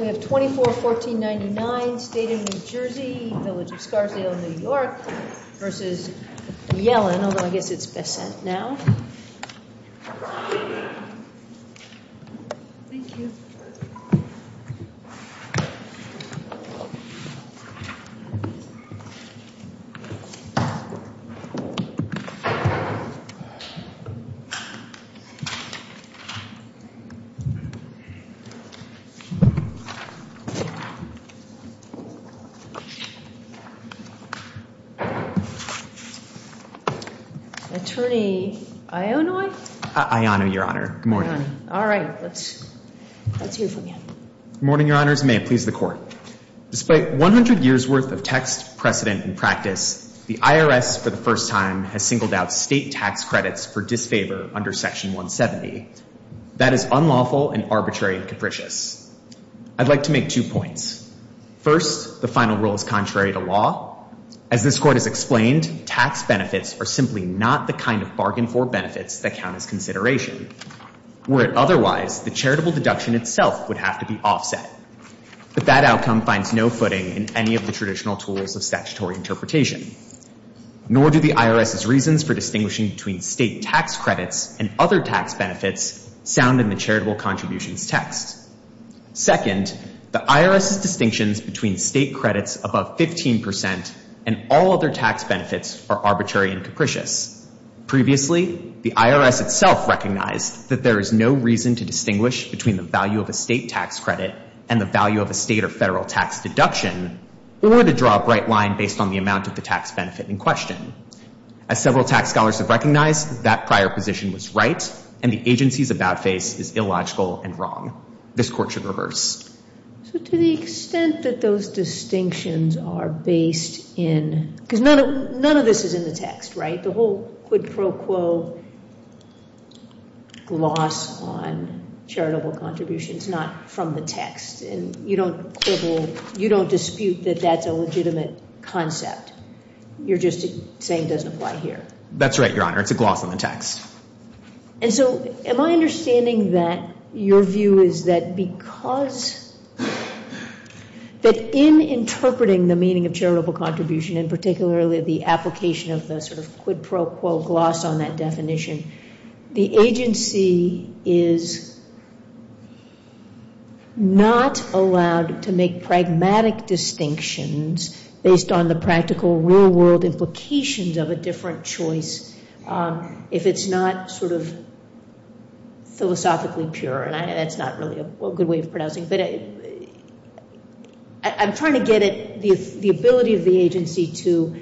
1499, State of New Jersey, Village of Scarfield, New York, v. Yellen, although I guess it's Attorney Ionoy? Ionoy, your honor. Good morning. All right, let's hear from you. Good morning, your honors. May it please the court. Despite 100 years worth of text, precedent, and practice, the IRS, for the first time, has singled out state tax credits for disfavor under Section 170. That is unlawful and arbitrary and capricious. I'd like to ask Attorney Ionoy to come forward and speak to this matter. I'd like to make two points. First, the final rule is contrary to law. As this court has explained, tax benefits are simply not the kind of bargain for benefits that count as consideration. Were it otherwise, the charitable deduction itself would have to be offset. But that outcome finds no footing in any of the traditional tools of statutory interpretation. Nor do the IRS's reasons for distinguishing between state tax credits and other tax benefits sound in the charitable contributions text. Second, the IRS's distinctions between state credits above 15% and all other tax benefits are arbitrary and capricious. Previously, the IRS itself recognized that there is no reason to distinguish between the value of a state tax credit and the value of a state or federal tax deduction, or to draw a bright line based on the amount of the tax benefit in question. As several tax scholars have recognized, that prior position was right, and the agency's about face is illogical and wrong. This court should reverse. So to the extent that those distinctions are based in, because none of this is in the text, right? The whole quid pro quo gloss on charitable contributions not from the text. And you don't quibble, you don't dispute that that's a legitimate concept. You're just saying it doesn't apply here. That's right, Your Honor. It's a gloss on the text. And so am I understanding that your view is that because that in interpreting the meaning of charitable contribution, and particularly the application of the sort of quid pro quo gloss on that definition, the agency is not allowed to make pragmatic distinctions based on the practical real world implications of a different choice. If it's not sort of philosophically pure, and that's not really a good way of pronouncing it, but I'm trying to get the ability of the agency to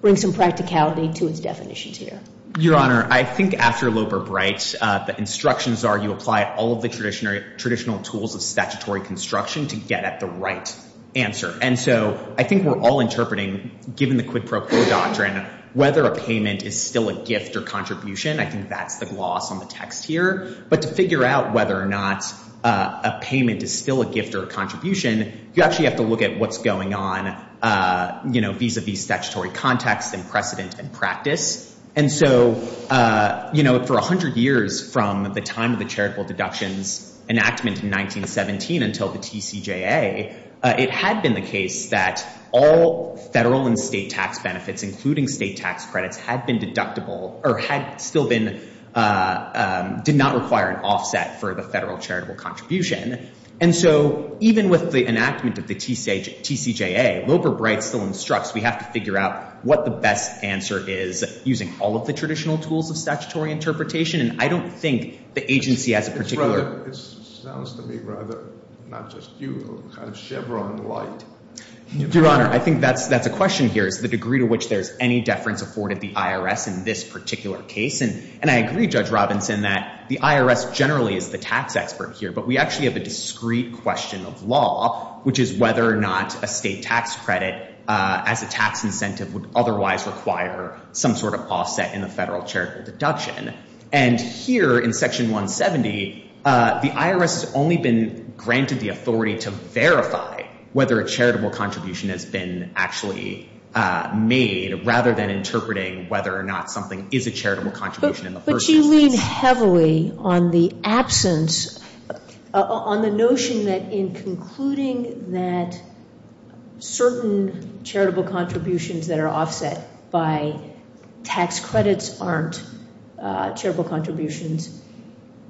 bring some practicality to its definitions here. Your Honor, I think after Loeb or Bright, the instructions are you apply all of the traditional tools of statutory construction to get at the right answer. And so I think we're all interpreting, given the quid pro quo doctrine, whether a payment is still a gift or contribution. I think that's the gloss on the text here. But to figure out whether or not a payment is still a gift or a contribution, you actually have to look at what's going on vis-a-vis statutory context and precedent and practice. And so for 100 years from the time of the charitable deductions enactment in 1917 until the TCJA, it had been the case that all federal and state tax benefits, including state tax credits, had been deductible or had still been—did not require an offset for the federal charitable contribution. And so even with the enactment of the TCJA, Loeb or Bright still instructs we have to figure out what the best answer is using all of the traditional tools of statutory interpretation. And I don't think the agency has a particular— It sounds to me rather, not just you, kind of Chevron and light. Your Honor, I think that's a question here is the degree to which there's any deference afforded the IRS in this particular case. And I agree, Judge Robinson, that the IRS generally is the tax expert here. But we actually have a discrete question of law, which is whether or not a state tax credit as a tax incentive would otherwise require some sort of offset in the federal charitable deduction. And here in Section 170, the IRS has only been granted the authority to verify whether a charitable contribution has been actually made rather than interpreting whether or not something is a charitable contribution in the first instance. You lean heavily on the absence—on the notion that in concluding that certain charitable contributions that are offset by tax credits aren't charitable contributions,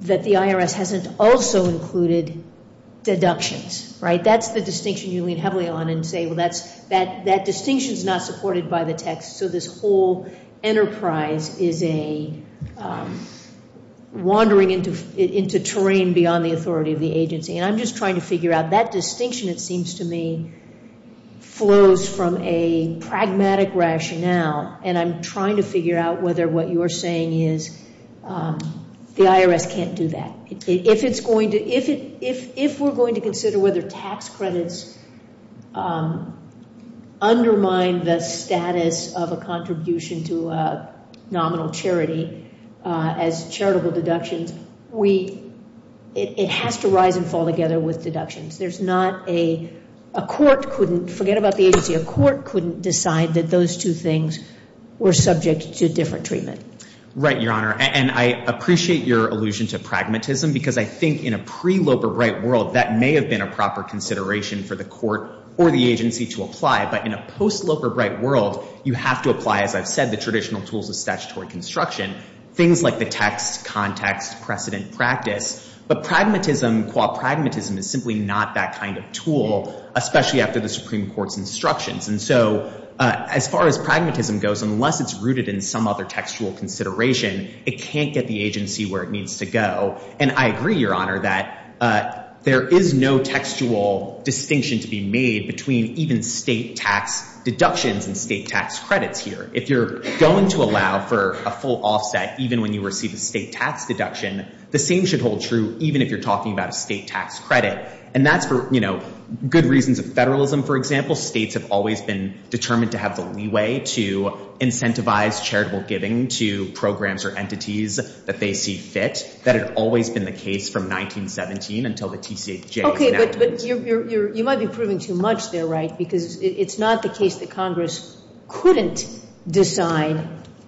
that the IRS hasn't also included deductions, right? That's the distinction you lean heavily on and say, well, that distinction is not supported by the text. So this whole enterprise is a wandering into terrain beyond the authority of the agency. And I'm just trying to figure out that distinction, it seems to me, flows from a pragmatic rationale. And I'm trying to figure out whether what you're saying is the IRS can't do that. If we're going to consider whether tax credits undermine the status of a contribution to a nominal charity as charitable deductions, it has to rise and fall together with deductions. There's not a—a court couldn't—forget about the agency—a court couldn't decide that those two things were subject to different treatment. Right, Your Honor. And I appreciate your allusion to pragmatism because I think in a pre-Loper Bright world, that may have been a proper consideration for the court or the agency to apply. But in a post-Loper Bright world, you have to apply, as I've said, the traditional tools of statutory construction, things like the text, context, precedent, practice. But pragmatism, qua pragmatism, is simply not that kind of tool, especially after the Supreme Court's instructions. And so as far as pragmatism goes, unless it's rooted in some other textual consideration, it can't get the agency where it needs to go. And I agree, Your Honor, that there is no textual distinction to be made between even state tax deductions and state tax credits here. If you're going to allow for a full offset even when you receive a state tax deduction, the same should hold true even if you're talking about a state tax credit. And that's for, you know, good reasons of federalism, for example. States have always been determined to have the leeway to incentivize charitable giving to programs or entities that they see fit. That had always been the case from 1917 until the TCAJ's enactment. But you might be proving too much there, right, because it's not the case that Congress couldn't decide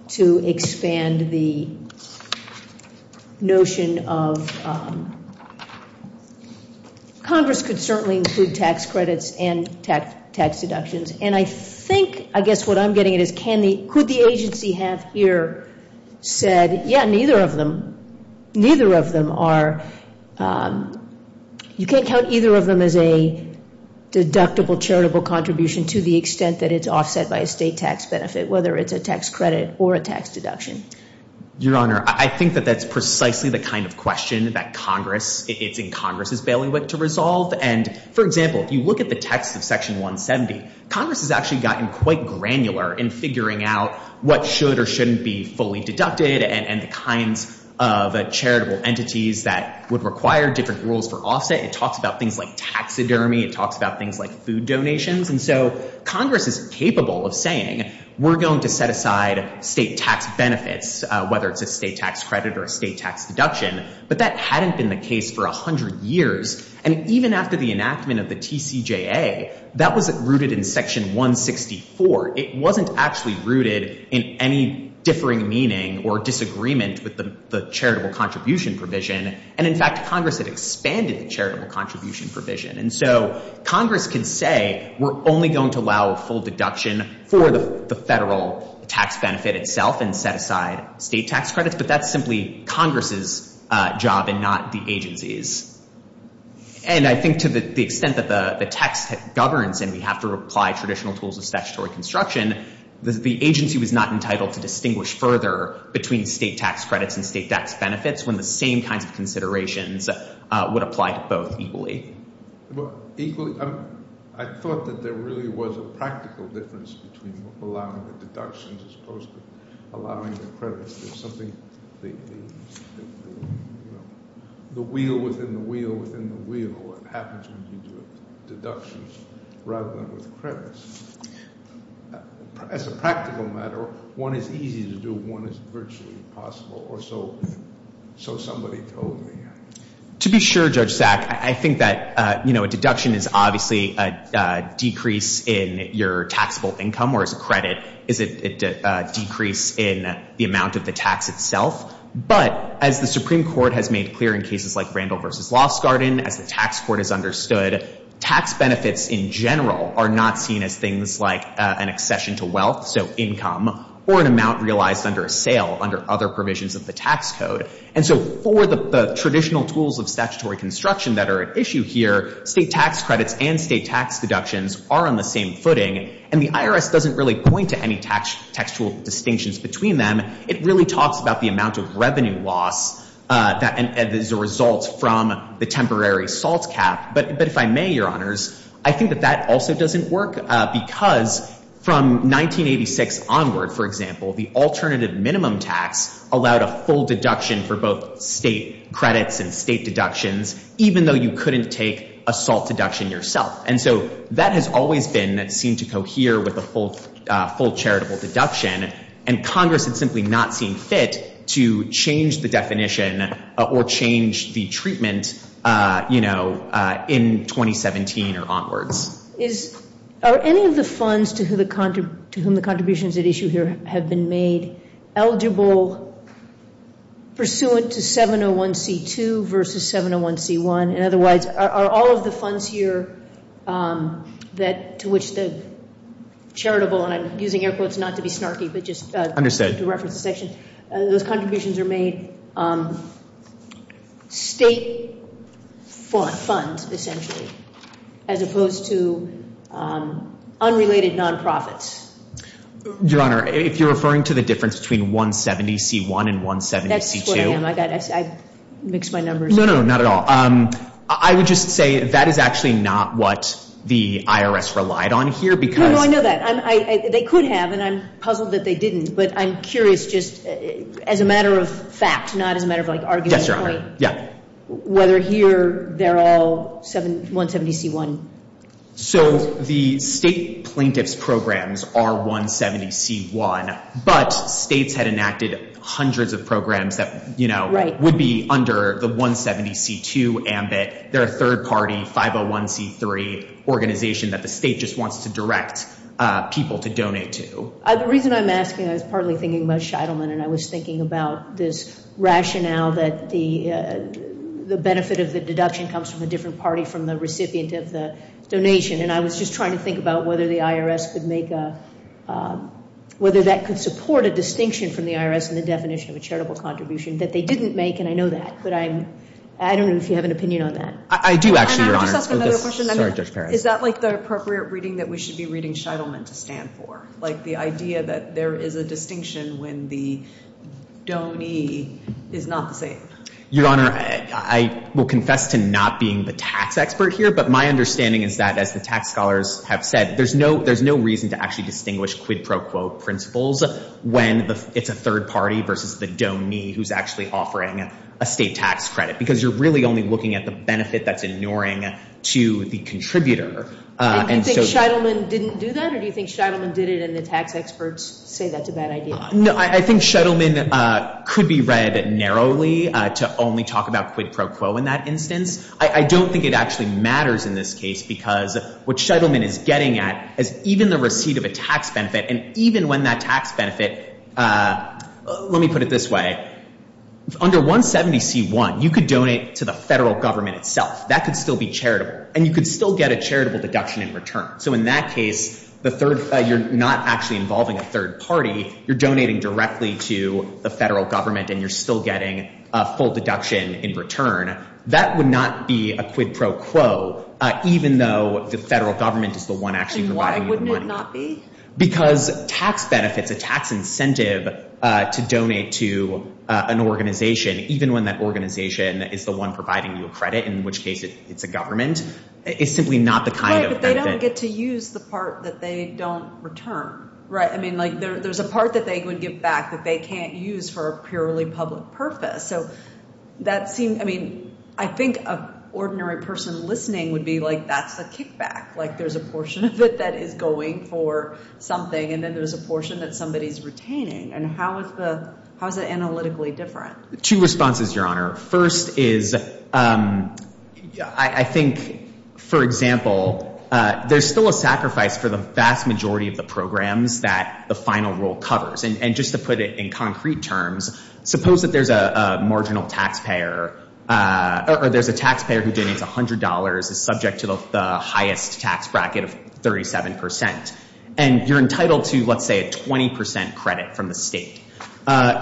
to expand the notion of Congress could certainly include tax credits and tax deductions. And I think, I guess what I'm getting at is can the, could the agency have here said, yeah, neither of them, neither of them are, you can't count either of them as a deductible charitable contribution to the extent that it's offset by a state tax benefit, whether it's a tax credit or a tax deduction. Your Honor, I think that that's precisely the kind of question that Congress, it's in Congress's bailiwick to resolve. And, for example, if you look at the text of Section 170, Congress has actually gotten quite granular in figuring out what should or shouldn't be fully deducted and the kinds of charitable entities that would require different rules for offset. It talks about things like taxidermy. It talks about things like food donations. And so Congress is capable of saying we're going to set aside state tax benefits, whether it's a state tax credit or a state tax deduction. But that hadn't been the case for 100 years. And even after the enactment of the TCJA, that wasn't rooted in Section 164. It wasn't actually rooted in any differing meaning or disagreement with the charitable contribution provision. And, in fact, Congress had expanded the charitable contribution provision. And so Congress can say we're only going to allow a full deduction for the federal tax benefit itself and set aside state tax credits. But that's simply Congress's job and not the agency's. And I think to the extent that the text governs and we have to apply traditional tools of statutory construction, the agency was not entitled to distinguish further between state tax credits and state tax benefits when the same kinds of considerations would apply to both equally. Equally? I thought that there really was a practical difference between allowing the deductions as opposed to allowing the credits. There's something that, you know, the wheel within the wheel within the wheel. It happens when you do deductions rather than with credits. As a practical matter, one is easy to do, one is virtually impossible. Or so somebody told me. To be sure, Judge Sack, I think that, you know, a deduction is obviously a decrease in your taxable income. Whereas a credit is a decrease in the amount of the tax itself. But as the Supreme Court has made clear in cases like Randall v. Lost Garden, as the tax court has understood, tax benefits in general are not seen as things like an accession to wealth, so income, or an amount realized under a sale under other provisions of the tax code. And so for the traditional tools of statutory construction that are at issue here, state tax credits and state tax deductions are on the same footing. And the IRS doesn't really point to any textual distinctions between them. It really talks about the amount of revenue loss that is a result from the temporary SALT cap. But if I may, Your Honors, I think that that also doesn't work because from 1986 onward, for example, the alternative minimum tax allowed a full deduction for both state credits and state deductions, even though you couldn't take a SALT deduction yourself. And so that has always been seen to cohere with a full charitable deduction. And Congress had simply not seen fit to change the definition or change the treatment, you know, in 2017 or onwards. Are any of the funds to whom the contributions at issue here have been made eligible pursuant to 701C2 versus 701C1? And otherwise, are all of the funds here that to which the charitable, and I'm using air quotes not to be snarky but just to reference the section, those contributions are made state funds, essentially, as opposed to unrelated nonprofits? Your Honor, if you're referring to the difference between 170C1 and 170C2. That's what I am. I mixed my numbers. No, no, not at all. I would just say that is actually not what the IRS relied on here because— No, no, I know that. They could have, and I'm puzzled that they didn't. But I'm curious just as a matter of fact, not as a matter of like argument. Whether here they're all 170C1. So the state plaintiff's programs are 170C1, but states had enacted hundreds of programs that would be under the 170C2 ambit. They're a third-party 501C3 organization that the state just wants to direct people to donate to. The reason I'm asking, I was partly thinking about Shidelman, and I was thinking about this rationale that the benefit of the deduction comes from a different party from the recipient of the donation. And I was just trying to think about whether the IRS could make a— whether that could support a distinction from the IRS in the definition of a charitable contribution that they didn't make, and I know that. But I don't know if you have an opinion on that. I do, actually, Your Honor. And I want to ask another question. Sorry, Judge Perez. Is that like the appropriate reading that we should be reading Shidelman to stand for? Like the idea that there is a distinction when the donor is not the same? Your Honor, I will confess to not being the tax expert here, but my understanding is that, as the tax scholars have said, there's no reason to actually distinguish quid pro quo principles when it's a third party versus the donee who's actually offering a state tax credit because you're really only looking at the benefit that's ignoring to the contributor. Do you think Shidelman didn't do that, or do you think Shidelman did it and the tax experts say that's a bad idea? No, I think Shidelman could be read narrowly to only talk about quid pro quo in that instance. I don't think it actually matters in this case because what Shidelman is getting at is even the receipt of a tax benefit, and even when that tax benefit, let me put it this way. Under 170C1, you could donate to the federal government itself. That could still be charitable, and you could still get a charitable deduction in return. So in that case, you're not actually involving a third party. You're donating directly to the federal government, and you're still getting a full deduction in return. That would not be a quid pro quo, even though the federal government is the one actually providing you the money. And why wouldn't it not be? Because tax benefits, a tax incentive to donate to an organization, even when that organization is the one providing you a credit, in which case it's a government, is simply not the kind of benefit. Right, but they don't get to use the part that they don't return, right? I mean, there's a part that they would give back that they can't use for a purely public purpose. So that seems, I mean, I think an ordinary person listening would be like that's a kickback. Like there's a portion of it that is going for something, and then there's a portion that somebody's retaining. And how is it analytically different? Two responses, Your Honor. First is I think, for example, there's still a sacrifice for the vast majority of the programs that the final rule covers. And just to put it in concrete terms, suppose that there's a marginal taxpayer or there's a taxpayer who donates $100 is subject to the highest tax bracket of 37%. And you're entitled to, let's say, a 20% credit from the state.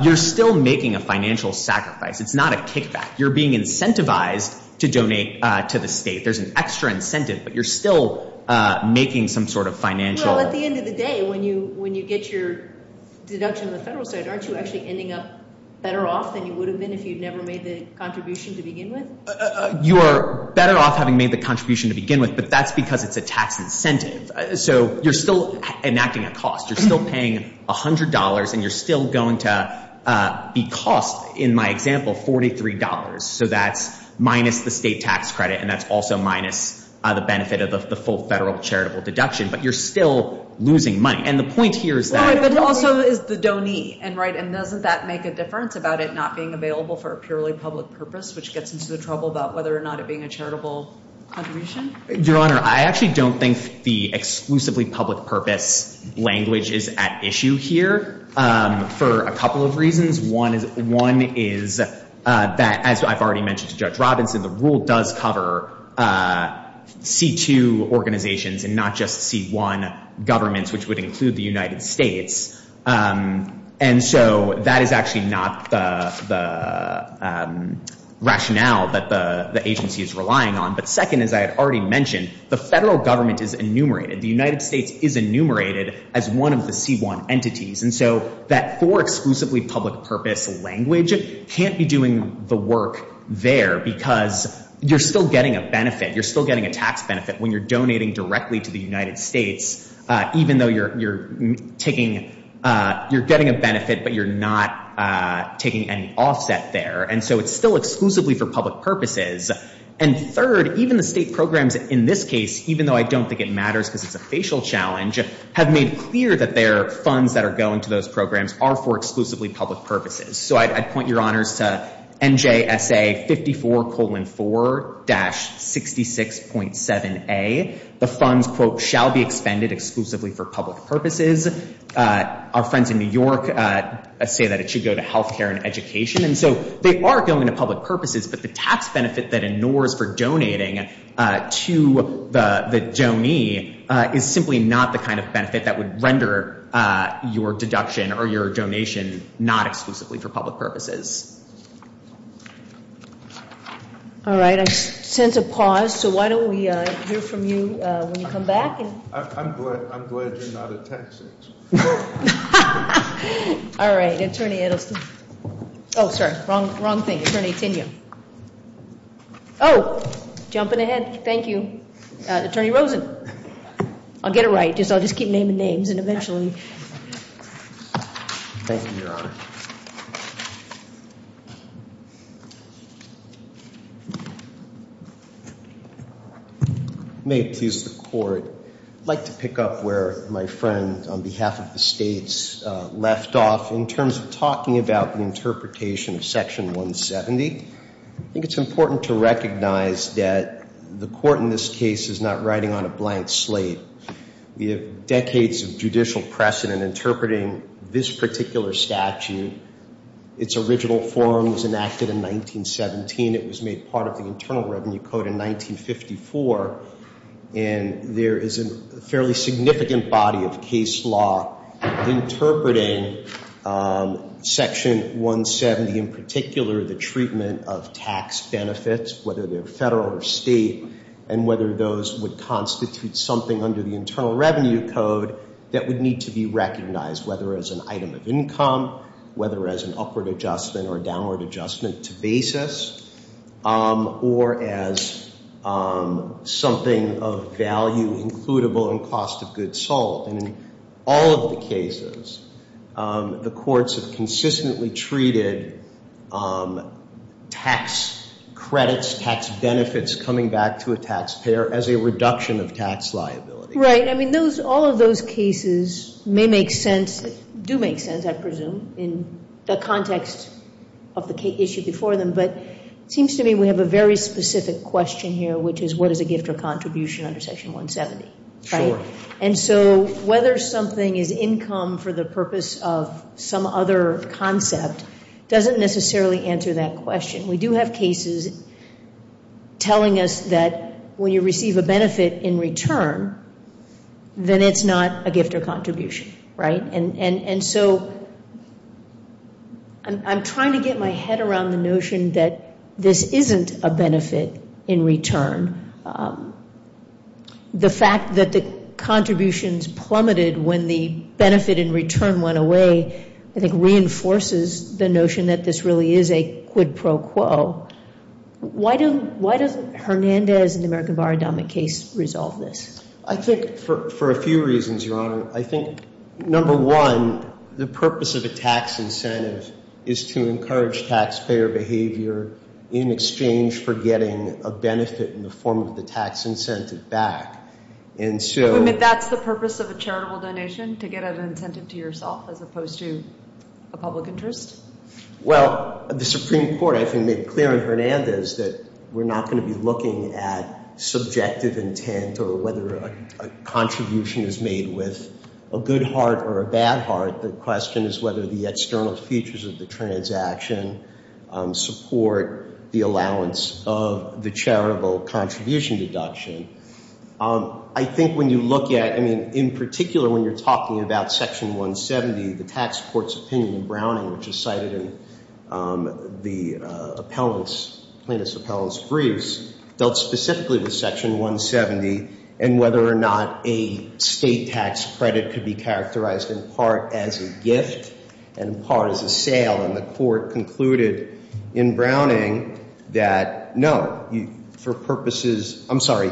You're still making a financial sacrifice. It's not a kickback. You're being incentivized to donate to the state. There's an extra incentive, but you're still making some sort of financial— Well, at the end of the day, when you get your deduction on the federal side, aren't you actually ending up better off than you would have been if you'd never made the contribution to begin with? You're better off having made the contribution to begin with, but that's because it's a tax incentive. So you're still enacting a cost. You're still paying $100, and you're still going to be cost, in my example, $43. So that's minus the state tax credit, and that's also minus the benefit of the full federal charitable deduction. But you're still losing money. And the point here is that— But it also is the donee, right? And doesn't that make a difference about it not being available for a purely public purpose, which gets into the trouble about whether or not it being a charitable contribution? Your Honor, I actually don't think the exclusively public purpose language is at issue here for a couple of reasons. One is that, as I've already mentioned to Judge Robinson, the rule does cover C-2 organizations and not just C-1 governments, which would include the United States. And so that is actually not the rationale that the agency is relying on. But second, as I had already mentioned, the federal government is enumerated. The United States is enumerated as one of the C-1 entities. And so that for exclusively public purpose language can't be doing the work there because you're still getting a benefit. You're still getting a tax benefit when you're donating directly to the United States, even though you're taking—you're getting a benefit, but you're not taking any offset there. And so it's still exclusively for public purposes. And third, even the state programs in this case, even though I don't think it matters because it's a facial challenge, have made clear that their funds that are going to those programs are for exclusively public purposes. So I'd point your honors to NJSA 54-4-66.7a. The funds, quote, shall be expended exclusively for public purposes. Our friends in New York say that it should go to health care and education. And so they are going to public purposes, but the tax benefit that ignores for donating to the donee is simply not the kind of benefit that would render your deduction or your donation not exclusively for public purposes. All right. I sense a pause. So why don't we hear from you when you come back. I'm glad you're not a Texas. All right. Oh, sorry. Wrong thing. Attorney Tenia. Oh. Jumping ahead. Thank you. Attorney Rosen. I'll get it right. I'll just keep naming names and eventually. Thank you, Your Honor. May it please the Court. I'd like to pick up where my friend on behalf of the states left off in terms of talking about the interpretation of Section 170. I think it's important to recognize that the court in this case is not writing on a blank slate. We have decades of judicial precedent interpreting this particular statute. Its original form was enacted in 1917. It was made part of the Internal Revenue Code in 1954. And there is a fairly significant body of case law interpreting Section 170, in particular the treatment of tax benefits, whether they're federal or state, and whether those would constitute something under the Internal Revenue Code that would need to be recognized, whether as an item of income, whether as an upward adjustment or downward adjustment to basis, or as something of value, includable, and cost of goods sold. And in all of the cases, the courts have consistently treated tax credits, tax benefits coming back to a taxpayer as a reduction of tax liability. Right. I mean, all of those cases may make sense, do make sense, I presume, in the context of the issue before them. But it seems to me we have a very specific question here, which is, what is a gift or contribution under Section 170, right? Sure. And so whether something is income for the purpose of some other concept doesn't necessarily answer that question. We do have cases telling us that when you receive a benefit in return, then it's not a gift or contribution, right? And so I'm trying to get my head around the notion that this isn't a benefit in return. The fact that the contributions plummeted when the benefit in return went away, I think, reinforces the notion that this really is a quid pro quo. Why doesn't Hernandez in the American Bar Endowment case resolve this? I think for a few reasons, Your Honor. I think, number one, the purpose of a tax incentive is to encourage taxpayer behavior in exchange for getting a benefit in the form of the tax incentive back. And so- You mean that's the purpose of a charitable donation, to get an incentive to yourself, as opposed to a public interest? Well, the Supreme Court, I think, made clear in Hernandez that we're not going to be looking at subjective intent or whether a contribution is made with a good heart or a bad heart. The question is whether the external features of the transaction support the allowance of the charitable contribution deduction. I think when you look at, I mean, in particular when you're talking about Section 170, the tax court's opinion in Browning, which is cited in the plaintiff's appellant's briefs, dealt specifically with Section 170 and whether or not a state tax credit could be characterized in part as a gift and in part as a sale. And the court concluded in Browning that no, for purposes- I'm sorry,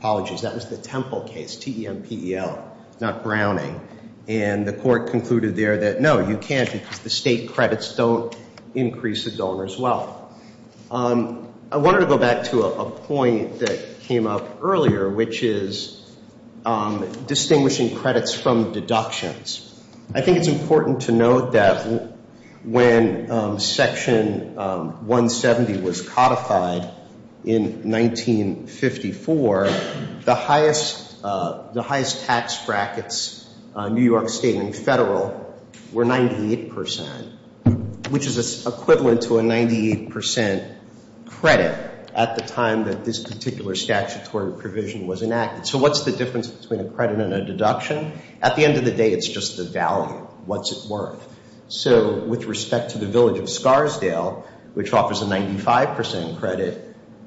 apologies, that was the Temple case, T-E-M-P-E-L, not Browning. And the court concluded there that no, you can't because the state credits don't increase a donor's wealth. I wanted to go back to a point that came up earlier, which is distinguishing credits from deductions. I think it's important to note that when Section 170 was codified in 1954, the highest tax brackets, New York State and Federal, were 98%, which is equivalent to a 98% credit at the time that this particular statutory provision was enacted. So what's the difference between a credit and a deduction? At the end of the day, it's just the value. What's it worth? So with respect to the village of Scarsdale, which offers a 95% credit,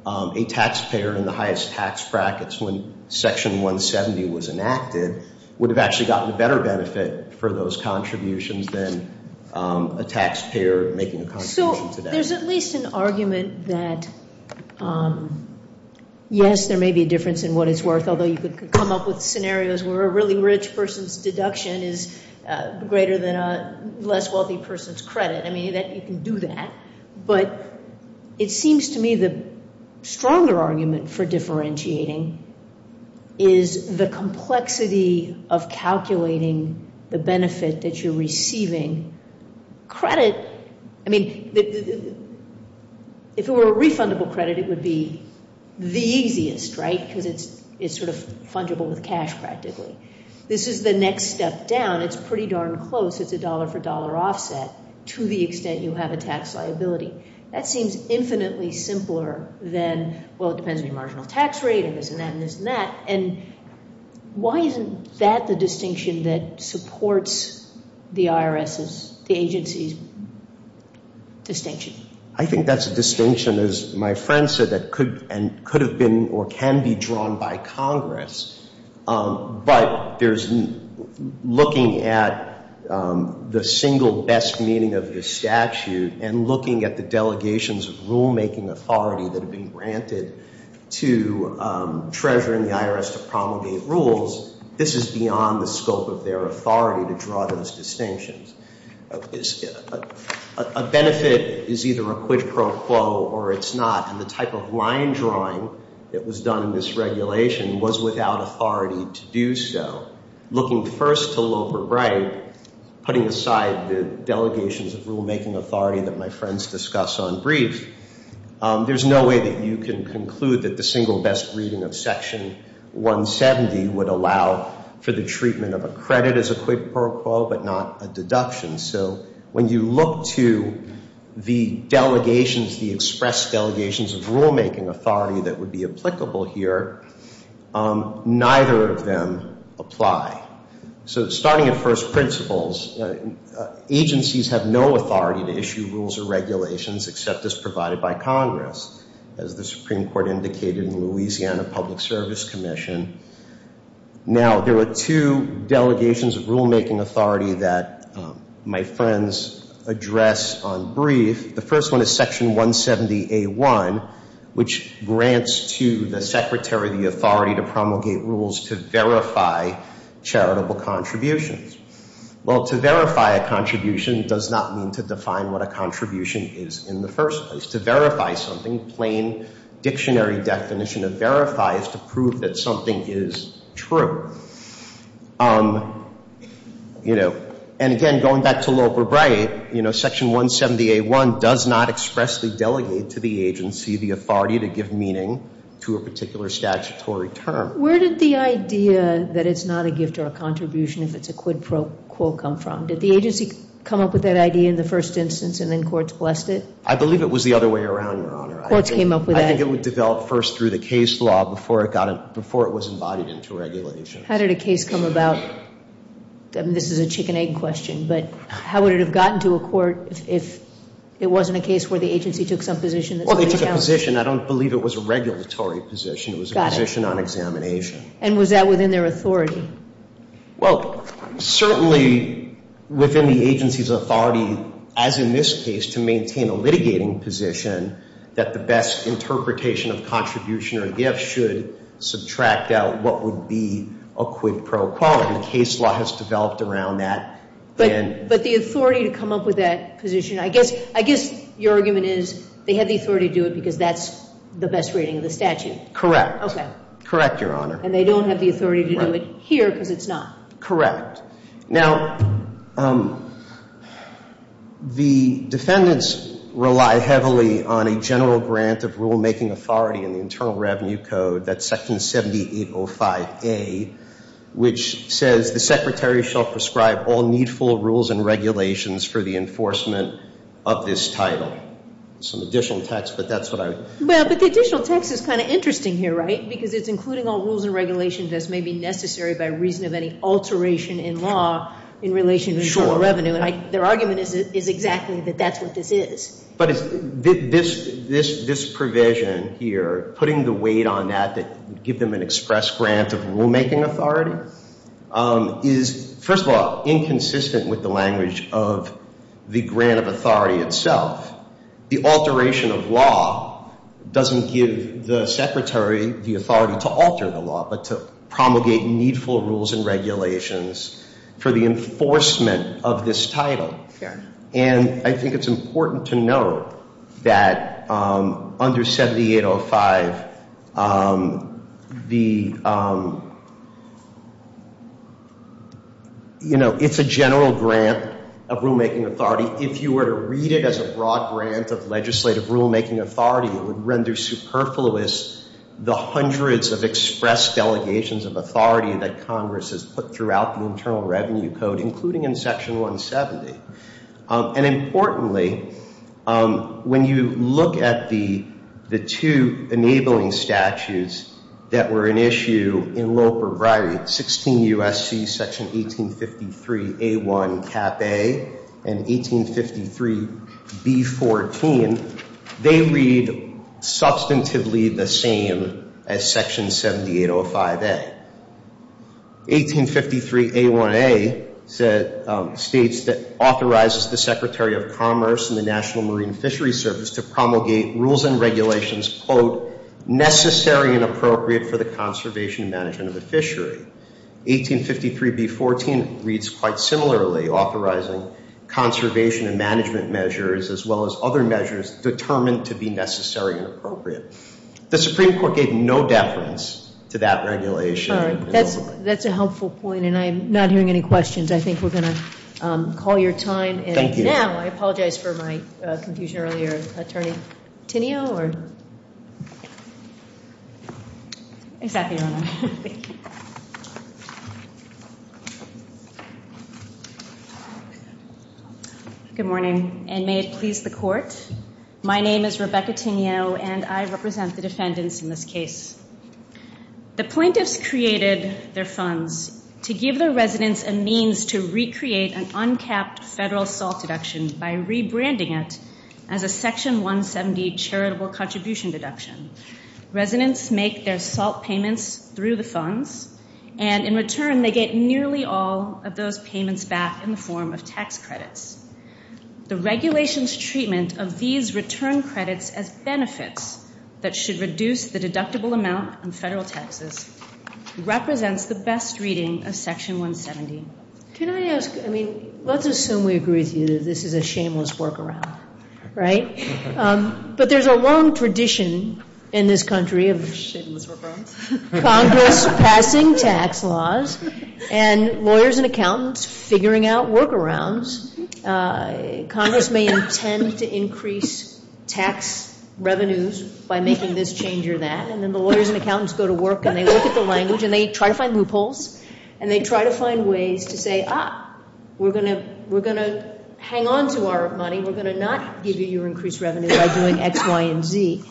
a taxpayer in the highest tax brackets when Section 170 was enacted would have actually gotten a better benefit for those contributions than a taxpayer making a contribution today. So there's at least an argument that, yes, there may be a difference in what it's worth, although you could come up with scenarios where a really rich person's deduction is greater than a less wealthy person's credit. I mean, you can do that. But it seems to me the stronger argument for differentiating is the complexity of calculating the benefit that you're receiving. Credit, I mean, if it were a refundable credit, it would be the easiest, right, because it's sort of fungible with cash practically. This is the next step down. It's pretty darn close. It's a dollar-for-dollar offset to the extent you have a tax liability. That seems infinitely simpler than, well, it depends on your marginal tax rate and this and that and this and that. And why isn't that the distinction that supports the IRS's, the agency's distinction? I think that's a distinction, as my friend said, that could and could have been or can be drawn by Congress. But there's looking at the single best meaning of the statute and looking at the delegations of rulemaking authority that have been granted to Treasurer and the IRS to promulgate rules, this is beyond the scope of their authority to draw those distinctions. A benefit is either a quid pro quo or it's not. And the type of line drawing that was done in this regulation was without authority to do so. Looking first to Loeb or Bright, putting aside the delegations of rulemaking authority that my friends discuss on brief, there's no way that you can conclude that the single best reading of Section 170 would allow for the treatment of a credit as a quid pro quo but not a deduction. So when you look to the delegations, the express delegations of rulemaking authority that would be applicable here, neither of them apply. So starting at first principles, agencies have no authority to issue rules or regulations except as provided by Congress. As the Supreme Court indicated in the Louisiana Public Service Commission. Now, there are two delegations of rulemaking authority that my friends address on brief. The first one is Section 170A1, which grants to the Secretary the authority to promulgate rules to verify charitable contributions. Well, to verify a contribution does not mean to define what a contribution is in the first place. To verify something, plain dictionary definition of verify is to prove that something is true. And again, going back to Loeb or Bright, Section 170A1 does not expressly delegate to the agency the authority to give meaning to a particular statutory term. Where did the idea that it's not a gift or a contribution if it's a quid pro quo come from? Did the agency come up with that idea in the first instance and then courts blessed it? I believe it was the other way around, Your Honor. Courts came up with that. I think it was developed first through the case law before it was embodied into regulations. How did a case come about? This is a chicken-egg question, but how would it have gotten to a court if it wasn't a case where the agency took some position? Well, they took a position. I don't believe it was a regulatory position. It was a position on examination. And was that within their authority? Well, certainly within the agency's authority, as in this case, to maintain a litigating position, that the best interpretation of contribution or gift should subtract out what would be a quid pro quo, and the case law has developed around that. But the authority to come up with that position, I guess your argument is they have the authority to do it because that's the best rating of the statute. Correct. Okay. Correct, Your Honor. And they don't have the authority to do it here because it's not. Now, the defendants rely heavily on a general grant of rule-making authority in the Internal Revenue Code, that's Section 7805A, which says the secretary shall prescribe all needful rules and regulations for the enforcement of this title. Some additional text, but that's what I'm... Well, but the additional text is kind of interesting here, right? Because it's including all rules and regulations as may be necessary by reason of any alteration in law in relation to general revenue. And their argument is exactly that that's what this is. But this provision here, putting the weight on that to give them an express grant of rule-making authority, is, first of all, inconsistent with the language of the grant of authority itself. The alteration of law doesn't give the secretary the authority to alter the law, but to promulgate needful rules and regulations for the enforcement of this title. Fair. And I think it's important to note that under 7805, it's a general grant of rule-making authority. If you were to read it as a broad grant of legislative rule-making authority, it would render superfluous the hundreds of express delegations of authority that Congress has put throughout the Internal Revenue Code, including in Section 170. And importantly, when you look at the two enabling statutes that were in issue in Loper Bribery, 16 U.S.C. Section 1853A1, Cap A, and 1853B14, they read substantively the same as Section 7805A. 1853A1A states that authorizes the Secretary of Commerce and the National Marine Fishery Service to promulgate rules and regulations, quote, necessary and appropriate for the conservation and management of the fishery. 1853B14 reads quite similarly, authorizing conservation and management measures, as well as other measures determined to be necessary and appropriate. The Supreme Court gave no deference to that regulation. All right. That's a helpful point, and I'm not hearing any questions. I think we're going to call your time. Thank you. And now I apologize for my confusion earlier. Attorney Tineo or? Exactly your honor. Good morning, and may it please the court. My name is Rebecca Tineo, and I represent the defendants in this case. The plaintiffs created their funds to give their residents a means to recreate an uncapped federal SALT deduction by rebranding it as a Section 170 charitable contribution deduction. Residents make their SALT payments through the funds, and in return they get nearly all of those payments back in the form of tax credits. The regulations treatment of these return credits as benefits that should reduce the deductible amount on federal taxes represents the best reading of Section 170. Can I ask, I mean, let's assume we agree with you that this is a shameless workaround, right? But there's a long tradition in this country of Congress passing tax laws and lawyers and accountants figuring out workarounds. Congress may intend to increase tax revenues by making this change or that, and then the lawyers and accountants go to work and they look at the language and they try to find loopholes and they try to find ways to say, ah, we're going to hang on to our money, we're going to not give you your increased revenue by doing X, Y, and Z.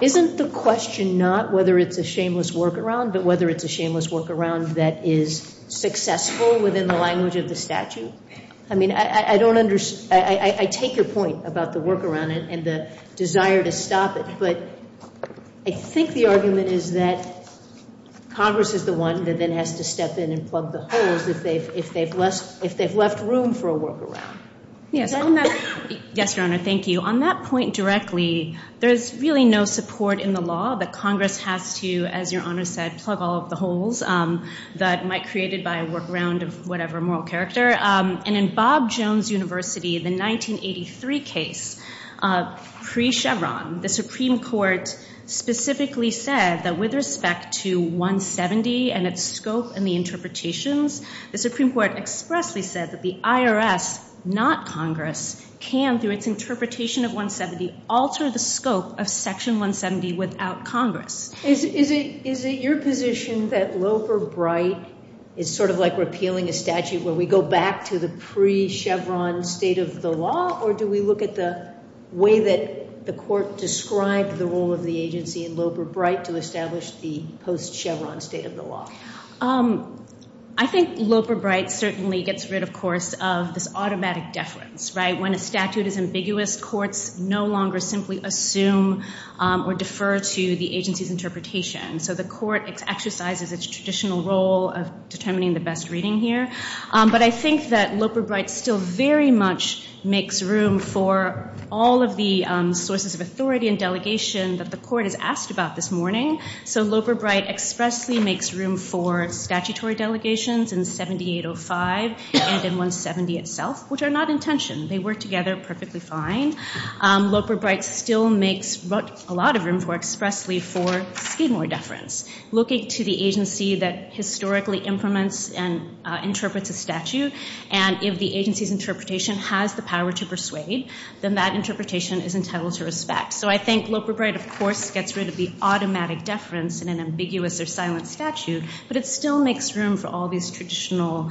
Isn't the question not whether it's a shameless workaround, but whether it's a shameless workaround that is successful within the language of the statute? I mean, I take your point about the workaround and the desire to stop it, but I think the argument is that Congress is the one that then has to step in and plug the holes if they've left room for a workaround. Yes, Your Honor, thank you. On that point directly, there's really no support in the law that Congress has to, as Your Honor said, plug all of the holes that might be created by a workaround of whatever moral character. And in Bob Jones University, the 1983 case, pre-Chevron, the Supreme Court specifically said that with respect to 170 and its scope and the interpretations, the Supreme Court expressly said that the IRS, not Congress, can, through its interpretation of 170, alter the scope of Section 170 without Congress. Is it your position that Loeb or Bright is sort of like repealing a statute where we go back to the pre-Chevron state of the law, or do we look at the way that the Court described the role of the agency in Loeb or Bright to establish the post-Chevron state of the law? I think Loeb or Bright certainly gets rid, of course, of this automatic deference, right? When a statute is ambiguous, courts no longer simply assume or defer to the agency's interpretation. So the Court exercises its traditional role of determining the best reading here. But I think that Loeb or Bright still very much makes room for all of the sources of authority and delegation that the Court has asked about this morning. So Loeb or Bright expressly makes room for statutory delegations in 7805 and in 170 itself, which are not in tension. They work together perfectly fine. Loeb or Bright still makes a lot of room for expressly for scheme or deference, looking to the agency that historically implements and interprets a statute, and if the agency's interpretation has the power to persuade, then that interpretation is entitled to respect. So I think Loeb or Bright, of course, gets rid of the automatic deference in an ambiguous or silent statute, but it still makes room for all these traditional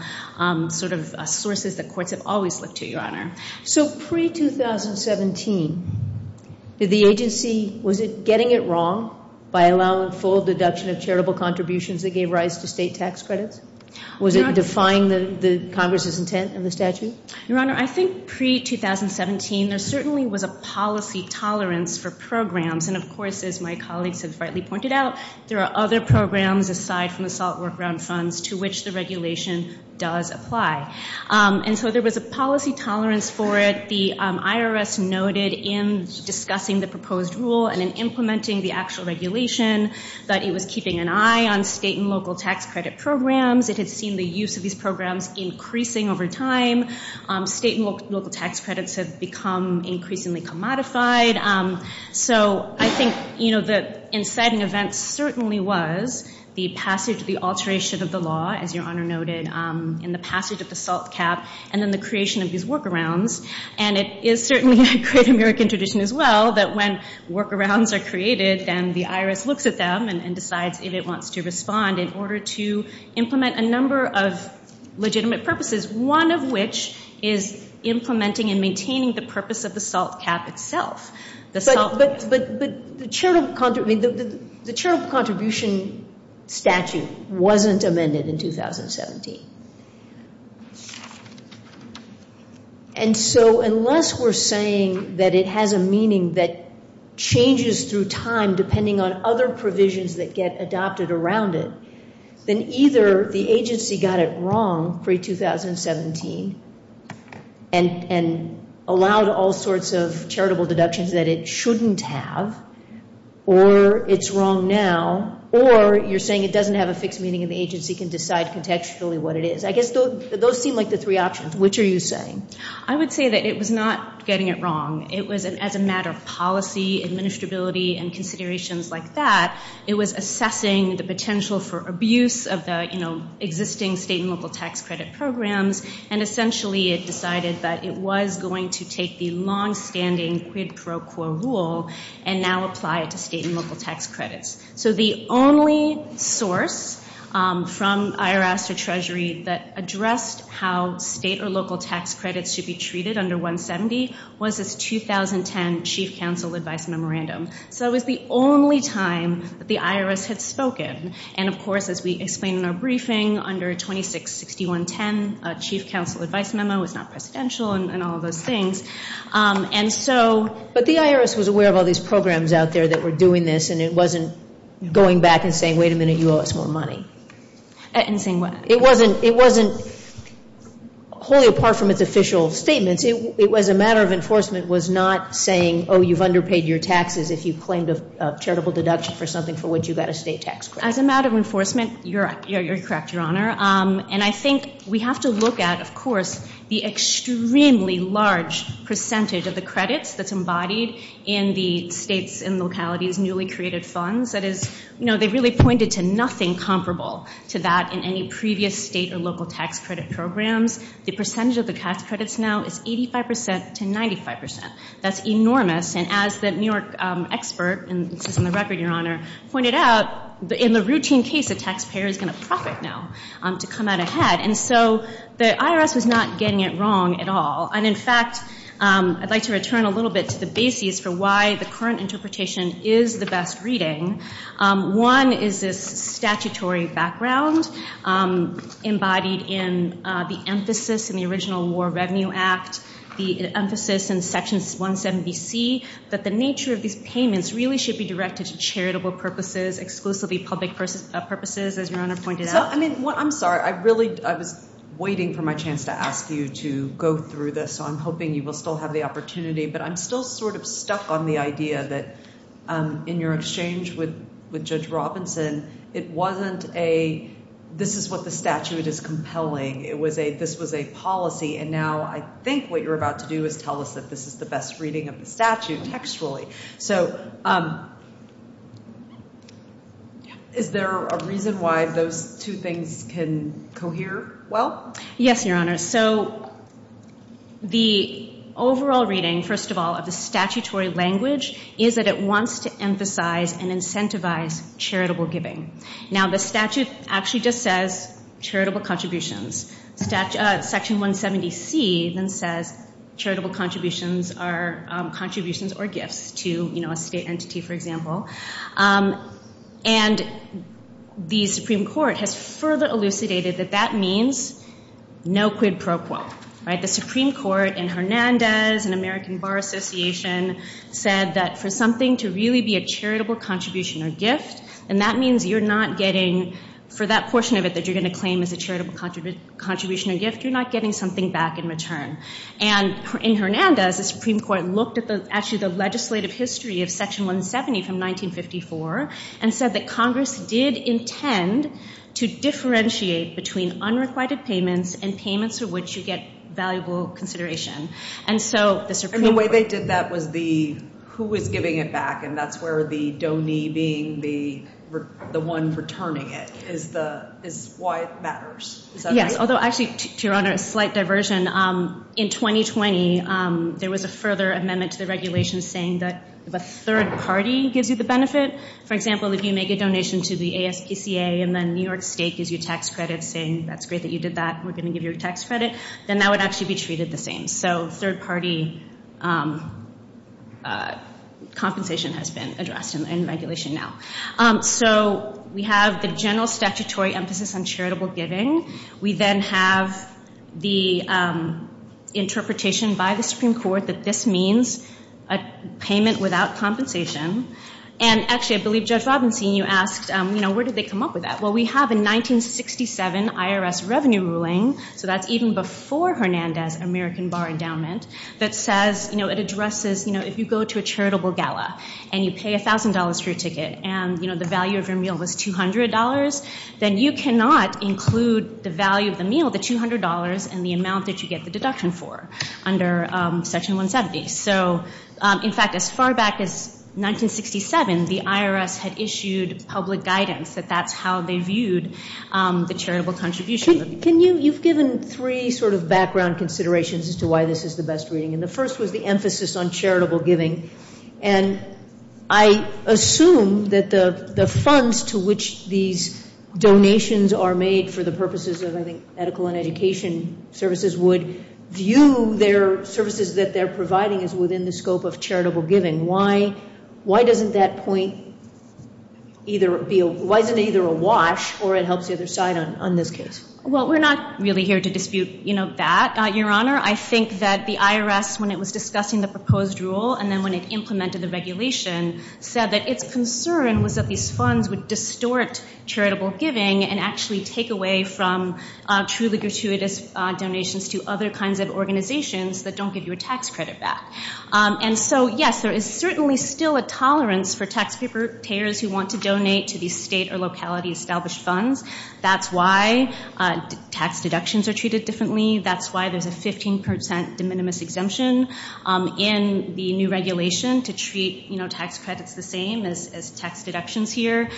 sort of sources that courts have always looked to, Your Honor. So pre-2017, did the agency, was it getting it wrong by allowing full deduction of charitable contributions that gave rise to state tax credits? Was it defying Congress's intent in the statute? Your Honor, I think pre-2017 there certainly was a policy tolerance for programs, and, of course, as my colleagues have rightly pointed out, there are other programs aside from the SALT workaround funds to which the regulation does apply. And so there was a policy tolerance for it. The IRS noted in discussing the proposed rule and in implementing the actual regulation that it was keeping an eye on state and local tax credit programs. It had seen the use of these programs increasing over time. State and local tax credits have become increasingly commodified. So I think the inciting event certainly was the passage, the alteration of the law, as Your Honor noted, and the passage of the SALT cap and then the creation of these workarounds. And it is certainly a great American tradition as well that when workarounds are created, then the IRS looks at them and decides if it wants to respond in order to implement a number of legitimate purposes, one of which is implementing and maintaining the purpose of the SALT cap itself. But the charitable contribution statute wasn't amended in 2017. And so unless we're saying that it has a meaning that changes through time depending on other provisions that get adopted around it, then either the agency got it wrong pre-2017 and allowed all sorts of charitable deductions that it shouldn't have, or it's wrong now, or you're saying it doesn't have a fixed meaning and the agency can decide contextually what it is. I guess those seem like the three options. Which are you saying? I would say that it was not getting it wrong. It was, as a matter of policy, administrability, and considerations like that, it was assessing the potential for abuse of the existing state and local tax credit programs, and essentially it decided that it was going to take the longstanding quid pro quo rule and now apply it to state and local tax credits. So the only source from IRS or Treasury that addressed how state or local tax credits should be treated under 170 was this 2010 chief counsel advice memorandum. So it was the only time that the IRS had spoken. And, of course, as we explained in our briefing, under 266110, a chief counsel advice memo was not presidential and all of those things. But the IRS was aware of all these programs out there that were doing this, and it wasn't going back and saying, wait a minute, you owe us more money. In the same way. It wasn't wholly apart from its official statements. It was a matter of enforcement was not saying, oh, you've underpaid your taxes if you claimed a charitable deduction for something for which you got a state tax credit. As a matter of enforcement, you're correct, Your Honor. And I think we have to look at, of course, the extremely large percentage of the credits that's embodied in the states and localities' newly created funds. That is, you know, they really pointed to nothing comparable to that in any previous state or local tax credit programs. The percentage of the tax credits now is 85% to 95%. That's enormous. And as the New York expert, and this is in the record, Your Honor, pointed out, in the routine case, the taxpayer is going to profit now to come out ahead. And so the IRS was not getting it wrong at all. And, in fact, I'd like to return a little bit to the basis for why the current interpretation is the best reading. One is this statutory background embodied in the emphasis in the original War Revenue Act, the emphasis in Section 170C that the nature of these payments really should be directed to charitable purposes, exclusively public purposes, as Your Honor pointed out. I'm sorry. I was waiting for my chance to ask you to go through this, so I'm hoping you will still have the opportunity. But I'm still sort of stuck on the idea that in your exchange with Judge Robinson, it wasn't a this is what the statute is compelling. It was a this was a policy. And now I think what you're about to do is tell us that this is the best reading of the statute textually. So is there a reason why those two things can cohere well? Yes, Your Honor. So the overall reading, first of all, of the statutory language is that it wants to emphasize and incentivize charitable giving. Now, the statute actually just says charitable contributions. Section 170C then says charitable contributions are contributions or gifts to, you know, a state entity, for example. And the Supreme Court has further elucidated that that means no quid pro quo. The Supreme Court in Hernandez and American Bar Association said that for something to really be a charitable contribution or gift, and that means you're not getting for that portion of it that you're going to claim as a charitable contribution or gift, you're not getting something back in return. And in Hernandez, the Supreme Court looked at actually the legislative history of Section 170 from 1954 and said that Congress did intend to differentiate between unrequited payments and payments for which you get valuable consideration. And so the Supreme Court. And the way they did that was the who was giving it back, and that's where the donee being the one returning it is why it matters. Is that right? Yes, although actually, to your honor, a slight diversion. In 2020, there was a further amendment to the regulation saying that if a third party gives you the benefit, for example, if you make a donation to the ASPCA and then New York State gives you tax credit saying that's great that you did that, we're going to give you a tax credit, then that would actually be treated the same. So third party compensation has been addressed in regulation now. So we have the general statutory emphasis on charitable giving. We then have the interpretation by the Supreme Court that this means a payment without compensation. And actually, I believe Judge Robinson, you asked, you know, where did they come up with that? Well, we have a 1967 IRS revenue ruling. So that's even before Hernandez American Bar Endowment that says, you know, it addresses, you know, if you go to a charitable gala and you pay $1,000 for your ticket and, you know, the value of your meal was $200, then you cannot include the value of the meal, the $200, in the amount that you get the deduction for under Section 170. So, in fact, as far back as 1967, the IRS had issued public guidance that that's how they viewed the charitable contribution. Can you, you've given three sort of background considerations as to why this is the best reading. And the first was the emphasis on charitable giving. And I assume that the funds to which these donations are made for the purposes of, I think, medical and education services would view their services that they're providing as within the scope of charitable giving. Why doesn't that point either be, why isn't it either a wash or it helps the other side on this case? Well, we're not really here to dispute, you know, that, Your Honor. I think that the IRS, when it was discussing the proposed rule and then when it implemented the regulation, said that its concern was that these funds would distort charitable giving and actually take away from truly gratuitous donations to other kinds of organizations that don't give you a tax credit back. And so, yes, there is certainly still a tolerance for taxpayers who want to donate to these state or locality established funds. That's why tax deductions are treated differently. That's why there's a 15% de minimis exemption in the new regulation to treat tax credits the same as tax deductions here.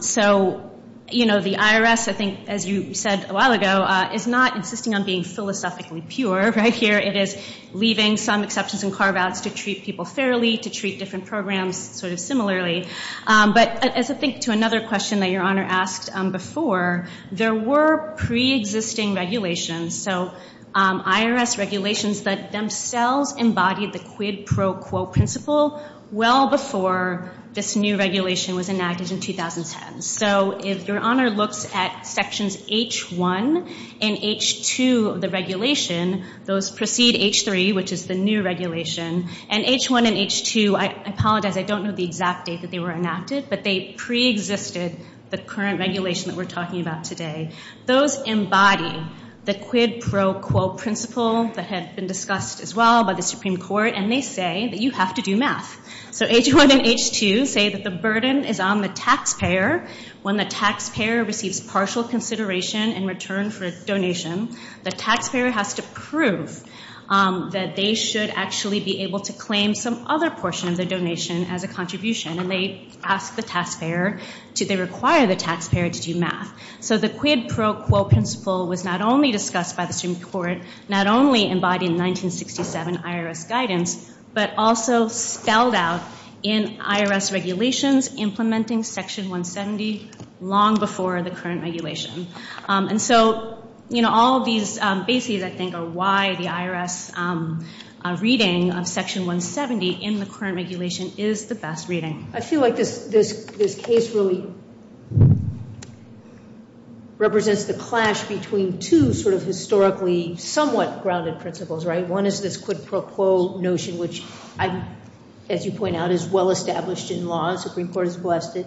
So, you know, the IRS, I think, as you said a while ago, is not insisting on being philosophically pure right here. It is leaving some exceptions and carve-outs to treat people fairly, to treat different programs sort of similarly. But as I think to another question that Your Honor asked before, there were pre-existing regulations, so IRS regulations that themselves embodied the quid pro quo principle well before this new regulation was enacted in 2010. So if Your Honor looks at Sections H1 and H2 of the regulation, those precede H3, which is the new regulation. And H1 and H2, I apologize, I don't know the exact date that they were enacted, but they preexisted the current regulation that we're talking about today. Those embody the quid pro quo principle that had been discussed as well by the Supreme Court, and they say that you have to do math. So H1 and H2 say that the burden is on the taxpayer. When the taxpayer receives partial consideration in return for a donation, the taxpayer has to prove that they should actually be able to claim some other portion of their donation as a contribution, and they ask the taxpayer to, they require the taxpayer to do math. So the quid pro quo principle was not only discussed by the Supreme Court, not only embodied in 1967 IRS guidance, but also spelled out in IRS regulations implementing Section 170 long before the current regulation. And so, you know, all these bases, I think, are why the IRS reading of Section 170 in the current regulation is the best reading. I feel like this case really represents the clash between two sort of historically somewhat grounded principles, right? One is this quid pro quo notion, which I, as you point out, is well established in law. The Supreme Court has blessed it.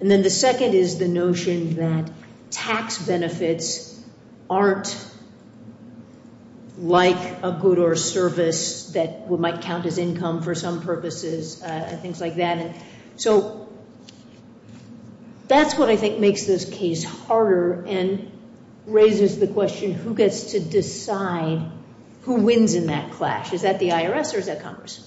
And then the second is the notion that tax benefits aren't like a good or service that might count as income for some purposes and things like that. So that's what I think makes this case harder and raises the question, who gets to decide who wins in that clash? Is that the IRS or is that Congress?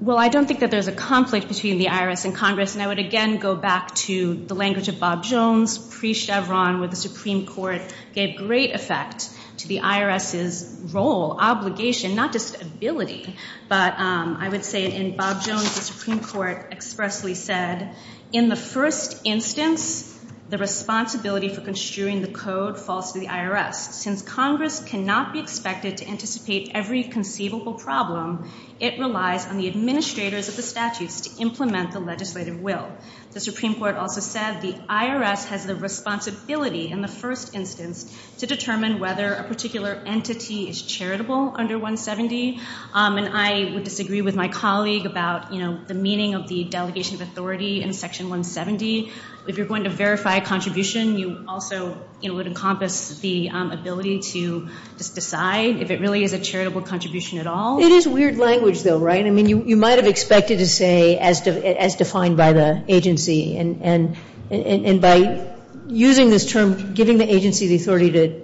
Well, I don't think that there's a conflict between the IRS and Congress, and I would again go back to the language of Bob Jones. Pre-Chevron, where the Supreme Court gave great effect to the IRS's role, obligation, not just ability. But I would say in Bob Jones, the Supreme Court expressly said, in the first instance, the responsibility for construing the code falls to the IRS. Since Congress cannot be expected to anticipate every conceivable problem, it relies on the administrators of the statutes to implement the legislative will. The Supreme Court also said the IRS has the responsibility in the first instance to determine whether a particular entity is charitable under 170. And I would disagree with my colleague about the meaning of the delegation of authority in Section 170. If you're going to verify a contribution, you also would encompass the ability to decide if it really is a charitable contribution at all. It is weird language, though, right? I mean, you might have expected to say, as defined by the agency. And by using this term, giving the agency the authority to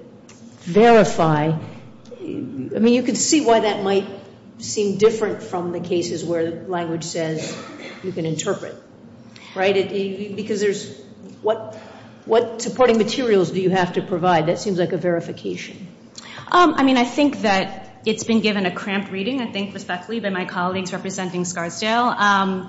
verify, I mean, you could see why that might seem different from the cases where language says you can interpret. Right? Because there's what supporting materials do you have to provide? That seems like a verification. I mean, I think that it's been given a cramped reading, I think, respectfully, by my colleagues representing Scarsdale.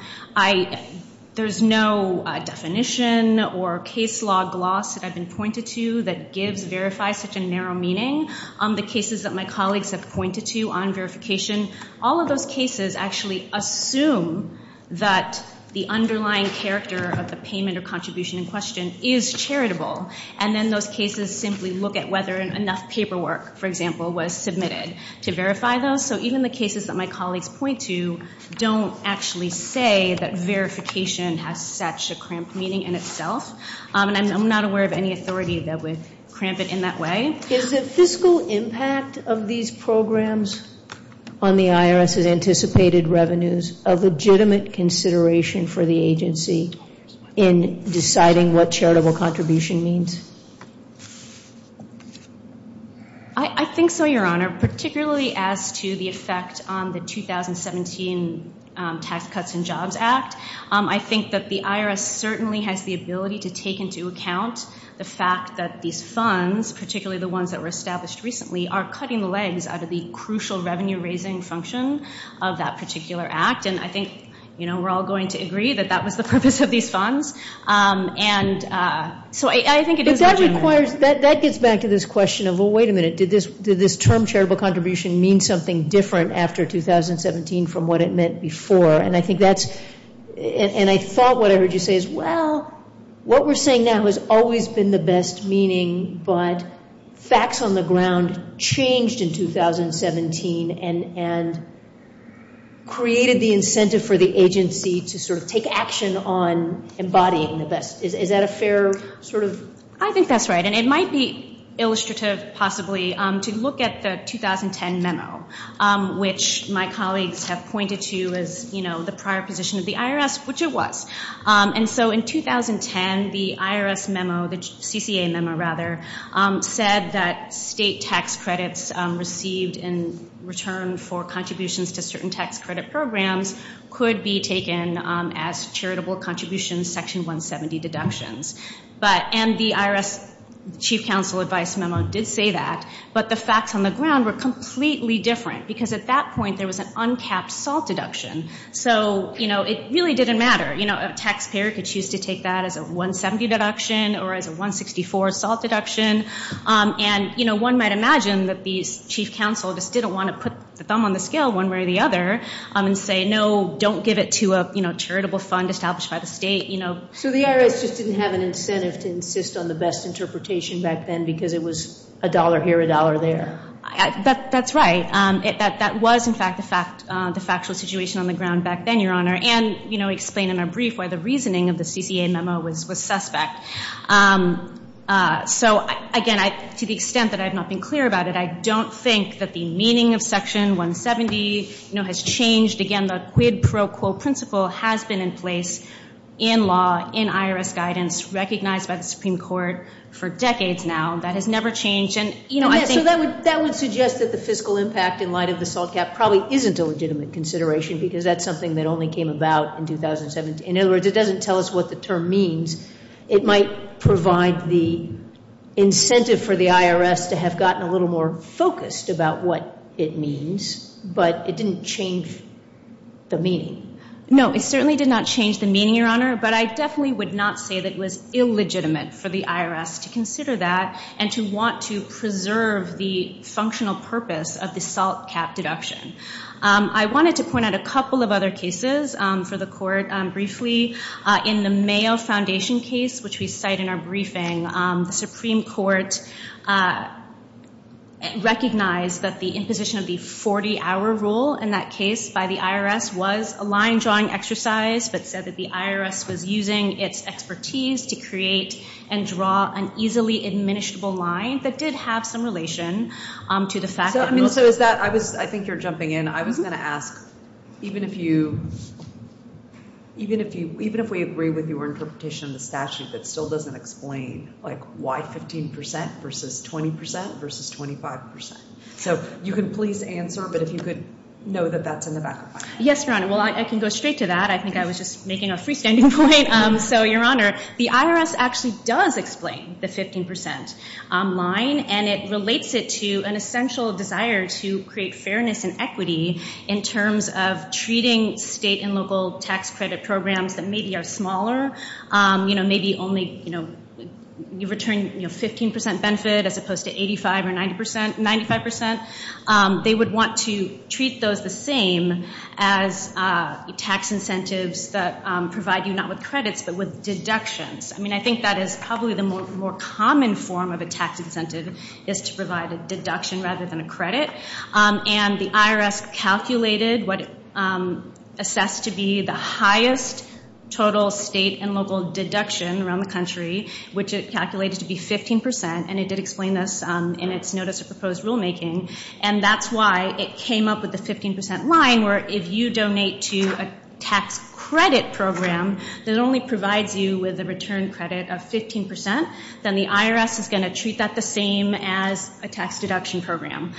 There's no definition or case law gloss that I've been pointed to that gives verify such a narrow meaning. The cases that my colleagues have pointed to on verification, all of those cases actually assume that the underlying character of the payment or contribution in question is charitable. And then those cases simply look at whether enough paperwork, for example, was submitted to verify those. So even the cases that my colleagues point to don't actually say that verification has such a cramped meaning in itself. And I'm not aware of any authority that would cramp it in that way. Is the fiscal impact of these programs on the IRS's anticipated revenues a legitimate consideration for the agency in deciding what charitable contribution means? I think so, Your Honor, particularly as to the effect on the 2017 Tax Cuts and Jobs Act. I think that the IRS certainly has the ability to take into account the fact that these funds, particularly the ones that were established recently, are cutting the legs out of the crucial revenue-raising function of that particular act. And I think we're all going to agree that that was the purpose of these funds. So I think it is legitimate. But that gets back to this question of, well, wait a minute. Did this term, charitable contribution, mean something different after 2017 from what it meant before? And I thought what I heard you say is, well, what we're saying now has always been the best meaning, but facts on the ground changed in 2017 and created the incentive for the agency to sort of take action on embodying the best. Is that a fair sort of? I think that's right. And it might be illustrative, possibly, to look at the 2010 memo, which my colleagues have pointed to as the prior position of the IRS, which it was. And so in 2010, the IRS memo, the CCA memo, rather, said that state tax credits received in return for contributions to certain tax credit programs could be taken as charitable contributions, Section 170 deductions. And the IRS chief counsel advice memo did say that, but the facts on the ground were completely different, because at that point there was an uncapped SALT deduction. So it really didn't matter. A taxpayer could choose to take that as a 170 deduction or as a 164 SALT deduction. And one might imagine that the chief counsel just didn't want to put the thumb on the scale one way or the other and say, no, don't give it to a charitable fund established by the state. So the IRS just didn't have an incentive to insist on the best interpretation back then because it was a dollar here, a dollar there. That's right. That was, in fact, the factual situation on the ground back then, Your Honor. And we explained in our brief why the reasoning of the CCA memo was suspect. So again, to the extent that I've not been clear about it, I don't think that the meaning of Section 170 has changed. Again, the quid pro quo principle has been in place in law, in IRS guidance, recognized by the Supreme Court for decades now. That has never changed. So that would suggest that the fiscal impact in light of the SALT cap probably isn't a legitimate consideration because that's something that only came about in 2017. In other words, it doesn't tell us what the term means. It might provide the incentive for the IRS to have gotten a little more focused about what it means, but it didn't change the meaning. No, it certainly did not change the meaning, Your Honor. But I definitely would not say that it was illegitimate for the IRS to consider that and to want to preserve the functional purpose of the SALT cap deduction. I wanted to point out a couple of other cases for the Court briefly. In the Mayo Foundation case, which we cite in our briefing, the Supreme Court recognized that the imposition of the 40-hour rule in that case by the IRS was a line-drawing exercise but said that the IRS was using its expertise to create and draw an easily administrable line that did have some relation to the fact that rules were— So is that—I think you're jumping in. I was going to ask, even if we agree with your interpretation of the statute that still doesn't explain, like, why 15% versus 20% versus 25%? So you can please answer, but if you could know that that's in the back of my mind. Yes, Your Honor. Well, I can go straight to that. I think I was just making a freestanding point. So, Your Honor, the IRS actually does explain the 15% line, and it relates it to an essential desire to create fairness and equity in terms of treating state and local tax credit programs that maybe are smaller. You know, maybe only—you return 15% benefit as opposed to 85% or 95%. They would want to treat those the same as tax incentives that provide you not with credits but with deductions. I mean, I think that is probably the more common form of a tax incentive is to provide a deduction rather than a credit. And the IRS calculated what it assessed to be the highest total state and local deduction around the country, which it calculated to be 15%. And it did explain this in its notice of proposed rulemaking. And that's why it came up with the 15% line, where if you donate to a tax credit program that only provides you with a return credit of 15%, then the IRS is going to treat that the same as a tax deduction program.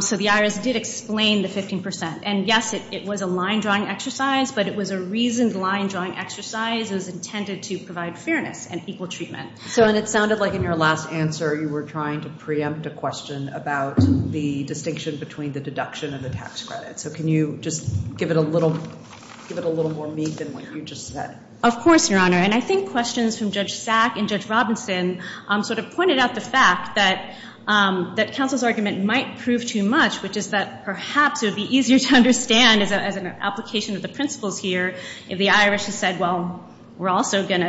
So the IRS did explain the 15%. And, yes, it was a line-drawing exercise, but it was a reasoned line-drawing exercise. It was intended to provide fairness and equal treatment. So it sounded like in your last answer you were trying to preempt a question about the distinction between the deduction and the tax credit. So can you just give it a little more meat than what you just said? Of course, Your Honor. And I think questions from Judge Sack and Judge Robinson sort of pointed out the fact that counsel's argument might prove too much, which is that perhaps it would be easier to understand as an application of the principles here if the IRS had said, well, we're going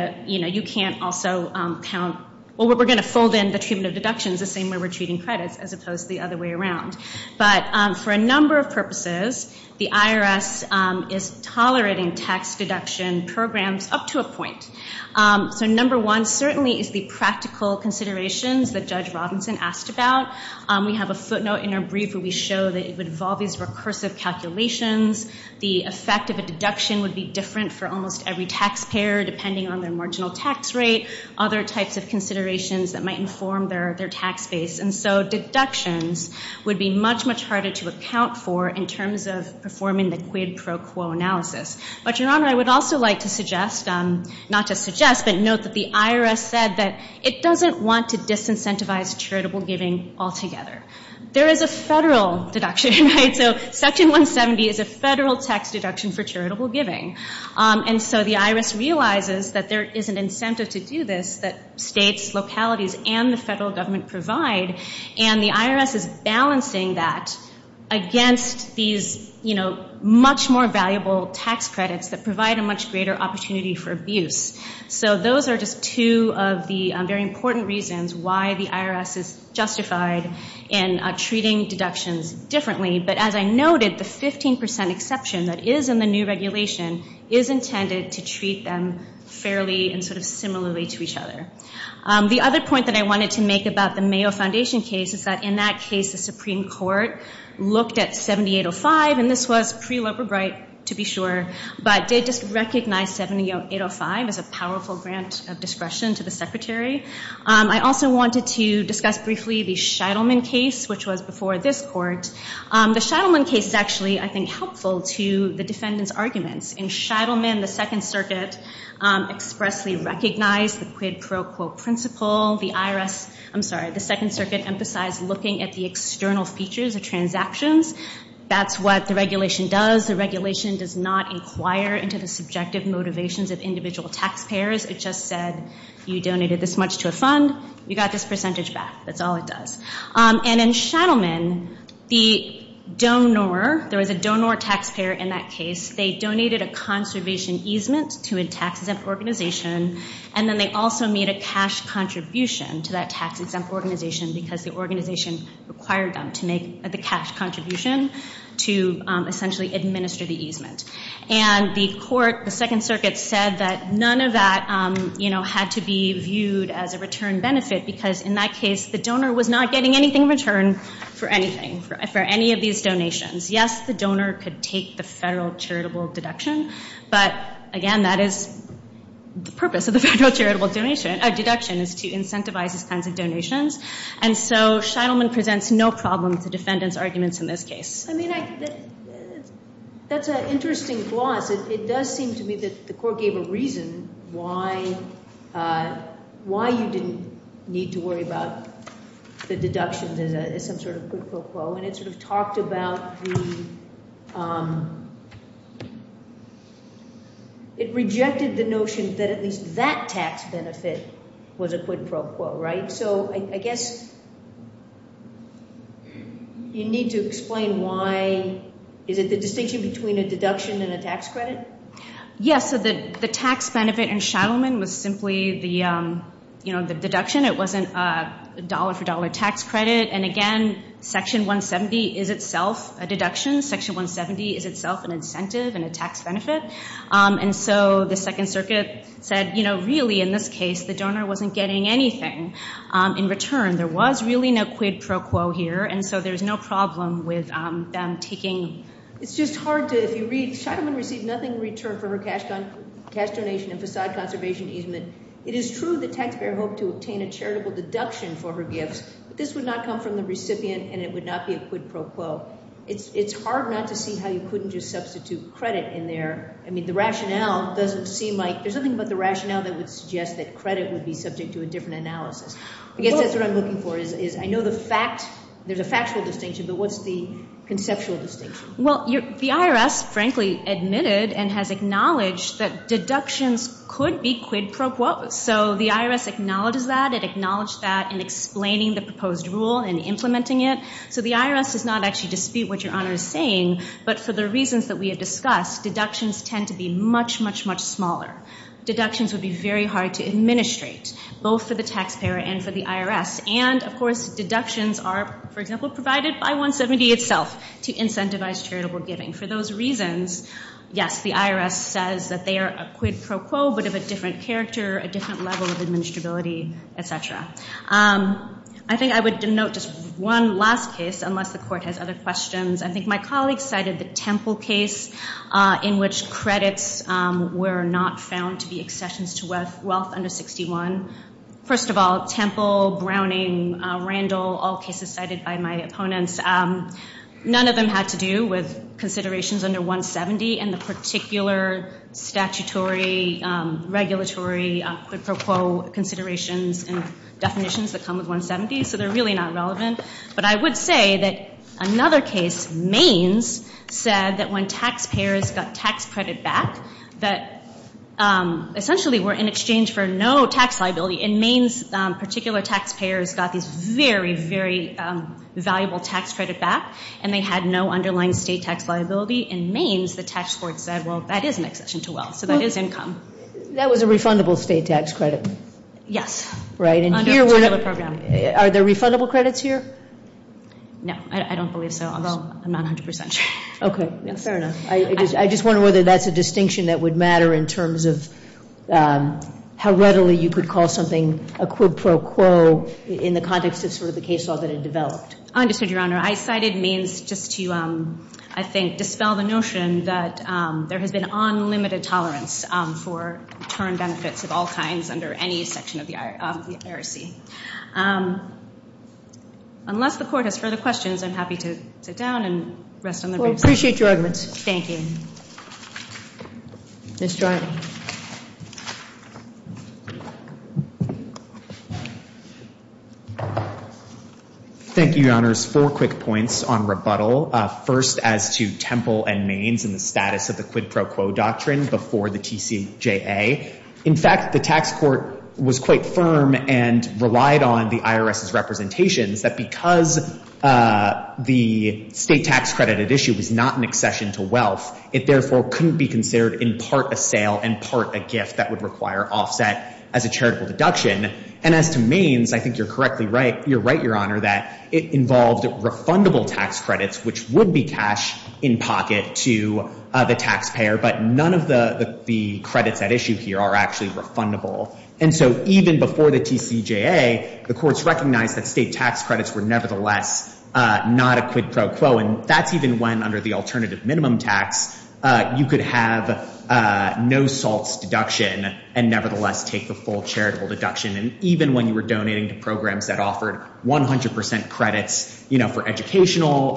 to fold in the treatment of deductions the same way we're treating credits as opposed to the other way around. But for a number of purposes, the IRS is tolerating tax deduction programs up to a point. So number one certainly is the practical considerations that Judge Robinson asked about. We have a footnote in our brief where we show that it would involve these recursive calculations. The effect of a deduction would be different for almost every taxpayer depending on their marginal tax rate, other types of considerations that might inform their tax base. And so deductions would be much, much harder to account for in terms of performing the quid pro quo analysis. But, Your Honor, I would also like to suggest, not just suggest, but note that the IRS said that it doesn't want to disincentivize charitable giving altogether. There is a federal deduction, right? So Section 170 is a federal tax deduction for charitable giving. And so the IRS realizes that there is an incentive to do this that states, localities, and the federal government provide. And the IRS is balancing that against these much more valuable tax credits that provide a much greater opportunity for abuse. So those are just two of the very important reasons why the IRS is justified in treating deductions differently. But, as I noted, the 15% exception that is in the new regulation is intended to treat them fairly and sort of similarly to each other. The other point that I wanted to make about the Mayo Foundation case is that, in that case, the Supreme Court looked at 7805, and this was pre-Loper Bright, to be sure, but did just recognize 7805 as a powerful grant of discretion to the Secretary. I also wanted to discuss briefly the Shettleman case, which was before this Court. The Shettleman case is actually, I think, helpful to the defendant's arguments. In Shettleman, the Second Circuit expressly recognized the quid pro quo principle. The IRS, I'm sorry, the Second Circuit emphasized looking at the external features of transactions. That's what the regulation does. The regulation does not inquire into the subjective motivations of individual taxpayers. It just said, you donated this much to a fund. You got this percentage back. That's all it does. And in Shettleman, the donor, there was a donor taxpayer in that case. They donated a conservation easement to a tax-exempt organization, and then they also made a cash contribution to that tax-exempt organization because the organization required them to make the cash contribution to essentially administer the easement. And the court, the Second Circuit, said that none of that had to be viewed as a return benefit because in that case, the donor was not getting anything in return for anything, for any of these donations. Yes, the donor could take the federal charitable deduction, but again, that is the purpose of the federal charitable deduction, is to incentivize these kinds of donations. And so Shettleman presents no problem to the defendant's arguments in this case. I mean, that's an interesting gloss. It does seem to me that the court gave a reason why you didn't need to worry about the deductions as some sort of quid pro quo, and it sort of talked about the – it rejected the notion that at least that tax benefit was a quid pro quo, right? So I guess you need to explain why – is it the distinction between a deduction and a tax credit? Yes, so the tax benefit in Shettleman was simply the deduction. It wasn't a dollar-for-dollar tax credit. And again, Section 170 is itself a deduction. Section 170 is itself an incentive and a tax benefit. And so the Second Circuit said, you know, really, in this case, the donor wasn't getting anything in return. There was really no quid pro quo here, and so there's no problem with them taking – It's just hard to – if you read, Shettleman received nothing in return for her cash donation and facade conservation easement. It is true the taxpayer hoped to obtain a charitable deduction for her gifts, but this would not come from the recipient and it would not be a quid pro quo. It's hard not to see how you couldn't just substitute credit in there. I mean, the rationale doesn't seem like – there's something about the rationale that would suggest that credit would be subject to a different analysis. I guess that's what I'm looking for, is I know the fact – there's a factual distinction, but what's the conceptual distinction? Well, the IRS, frankly, admitted and has acknowledged that deductions could be quid pro quo. So the IRS acknowledges that. It acknowledged that in explaining the proposed rule and implementing it. So the IRS does not actually dispute what Your Honor is saying, but for the reasons that we have discussed, deductions tend to be much, much, much smaller. Deductions would be very hard to administrate, both for the taxpayer and for the IRS. And, of course, deductions are, for example, provided by 170 itself to incentivize charitable giving. For those reasons, yes, the IRS says that they are a quid pro quo, but of a different character, a different level of administrability, et cetera. I think I would denote just one last case, unless the Court has other questions. I think my colleague cited the Temple case in which credits were not found to be accessions to wealth under 61. First of all, Temple, Browning, Randall, all cases cited by my opponents, none of them had to do with considerations under 170 and the particular statutory regulatory quid pro quo considerations and definitions that come with 170. So they're really not relevant. But I would say that another case, Maines, said that when taxpayers got tax credit back, that essentially were in exchange for no tax liability. In Maines, particular taxpayers got these very, very valuable tax credit back, and they had no underlying state tax liability. In Maines, the tax court said, well, that is an accession to wealth, so that is income. That was a refundable state tax credit? Yes. Right. Under a particular program. Are there refundable credits here? No. I don't believe so, although I'm not 100% sure. Okay. Fair enough. I just wonder whether that's a distinction that would matter in terms of how readily you could call something a quid pro quo in the context of sort of the case law that had developed. I understand, Your Honor. I cited Maines just to, I think, dispel the notion that there has been unlimited tolerance for return benefits of all kinds under any section of the IRC. Unless the Court has further questions, I'm happy to sit down and rest on the briefs. We appreciate your argument. Thank you. Ms. Dryden. Thank you, Your Honors. Four quick points on rebuttal. First, as to Temple and Maines and the status of the quid pro quo doctrine before the TCJA. In fact, the tax court was quite firm and relied on the IRS's representations that because the state tax credit at issue was not an accession to wealth, it therefore couldn't be considered in part a sale and not a refund. And part a gift that would require offset as a charitable deduction. And as to Maines, I think you're correctly right. You're right, Your Honor, that it involved refundable tax credits, which would be cash in pocket to the taxpayer. But none of the credits at issue here are actually refundable. And so even before the TCJA, the courts recognized that state tax credits were nevertheless not a quid pro quo. And that's even when under the alternative minimum tax, you could have no salts deduction and nevertheless take the full charitable deduction. And even when you were donating to programs that offered 100 percent credits, you know, for educational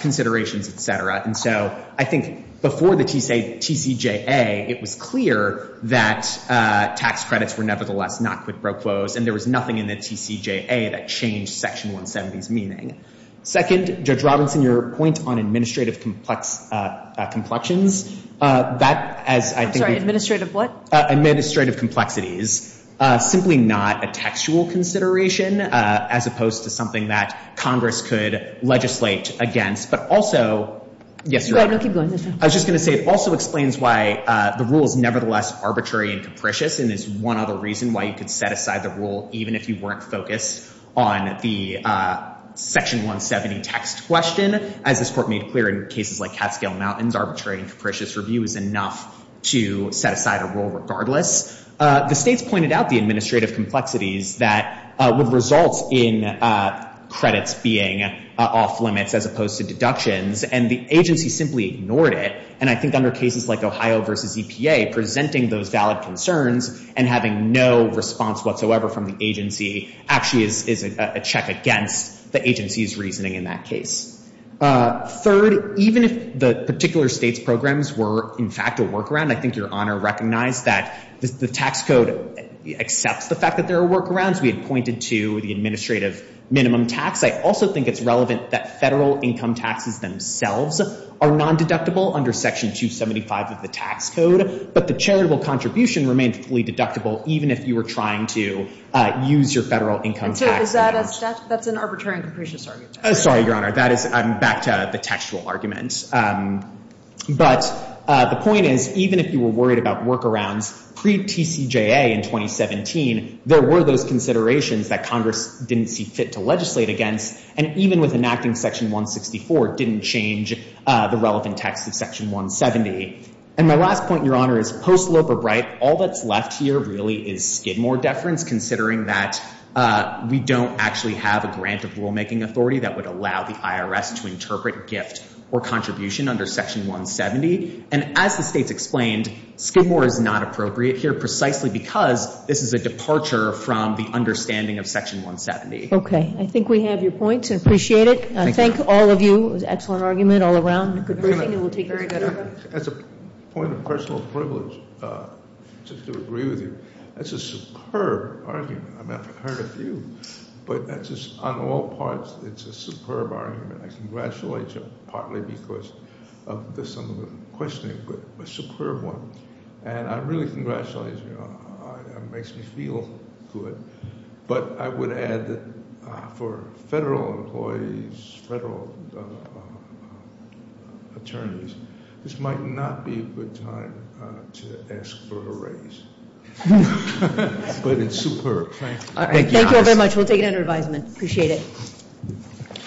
considerations, et cetera. And so I think before the TCJA, it was clear that tax credits were nevertheless not quid pro quos. And there was nothing in the TCJA that changed Section 170's meaning. Second, Judge Robinson, your point on administrative complexions, that as I think- I'm sorry, administrative what? Administrative complexities. Simply not a textual consideration as opposed to something that Congress could legislate against. But also- You're right. No, keep going. I was just going to say it also explains why the rule is nevertheless arbitrary and capricious and is one other reason why you could set aside the rule even if you weren't focused on the Section 170 text question. As this Court made clear in cases like Catskill Mountains, arbitrary and capricious review is enough to set aside a rule regardless. The states pointed out the administrative complexities that would result in credits being off limits as opposed to deductions. And the agency simply ignored it. And I think under cases like Ohio v. EPA, presenting those valid concerns and having no response whatsoever from the agency actually is a check against the agency's reasoning in that case. Third, even if the particular state's programs were, in fact, a workaround, I think Your Honor recognized that the tax code accepts the fact that there are workarounds. We had pointed to the administrative minimum tax. I also think it's relevant that federal income taxes themselves are non-deductible under Section 275 of the tax code. But the charitable contribution remained fully deductible even if you were trying to use your federal income tax- And so is that a statutory- That's an arbitrary and capricious argument. Sorry, Your Honor. That is- I'm back to the textual argument. But the point is, even if you were worried about workarounds pre-TCJA in 2017, there were those considerations that Congress didn't see fit to legislate against. And even with enacting Section 164, it didn't change the relevant text of Section 170. And my last point, Your Honor, is post-Loeb or Bright, all that's left here really is Skidmore deference, considering that we don't actually have a grant of rulemaking authority that would allow the IRS to interpret gift or contribution under Section 170. And as the State's explained, Skidmore is not appropriate here precisely because this is a departure from the understanding of Section 170. Okay. I think we have your point. I appreciate it. I thank all of you. It was an excellent argument all around. Good briefing, and we'll take- Very good. As a point of personal privilege, just to agree with you, that's a superb argument. I've heard a few, but that's just- on all parts, it's a superb argument. I congratulate you, partly because of the sum of the questioning, but a superb one. And I really congratulate you. It makes me feel good. But I would add that for federal employees, federal attorneys, this might not be a good time to ask for a raise. But it's superb. Thank you. Thank you all very much. We'll take it under advisement. Appreciate it.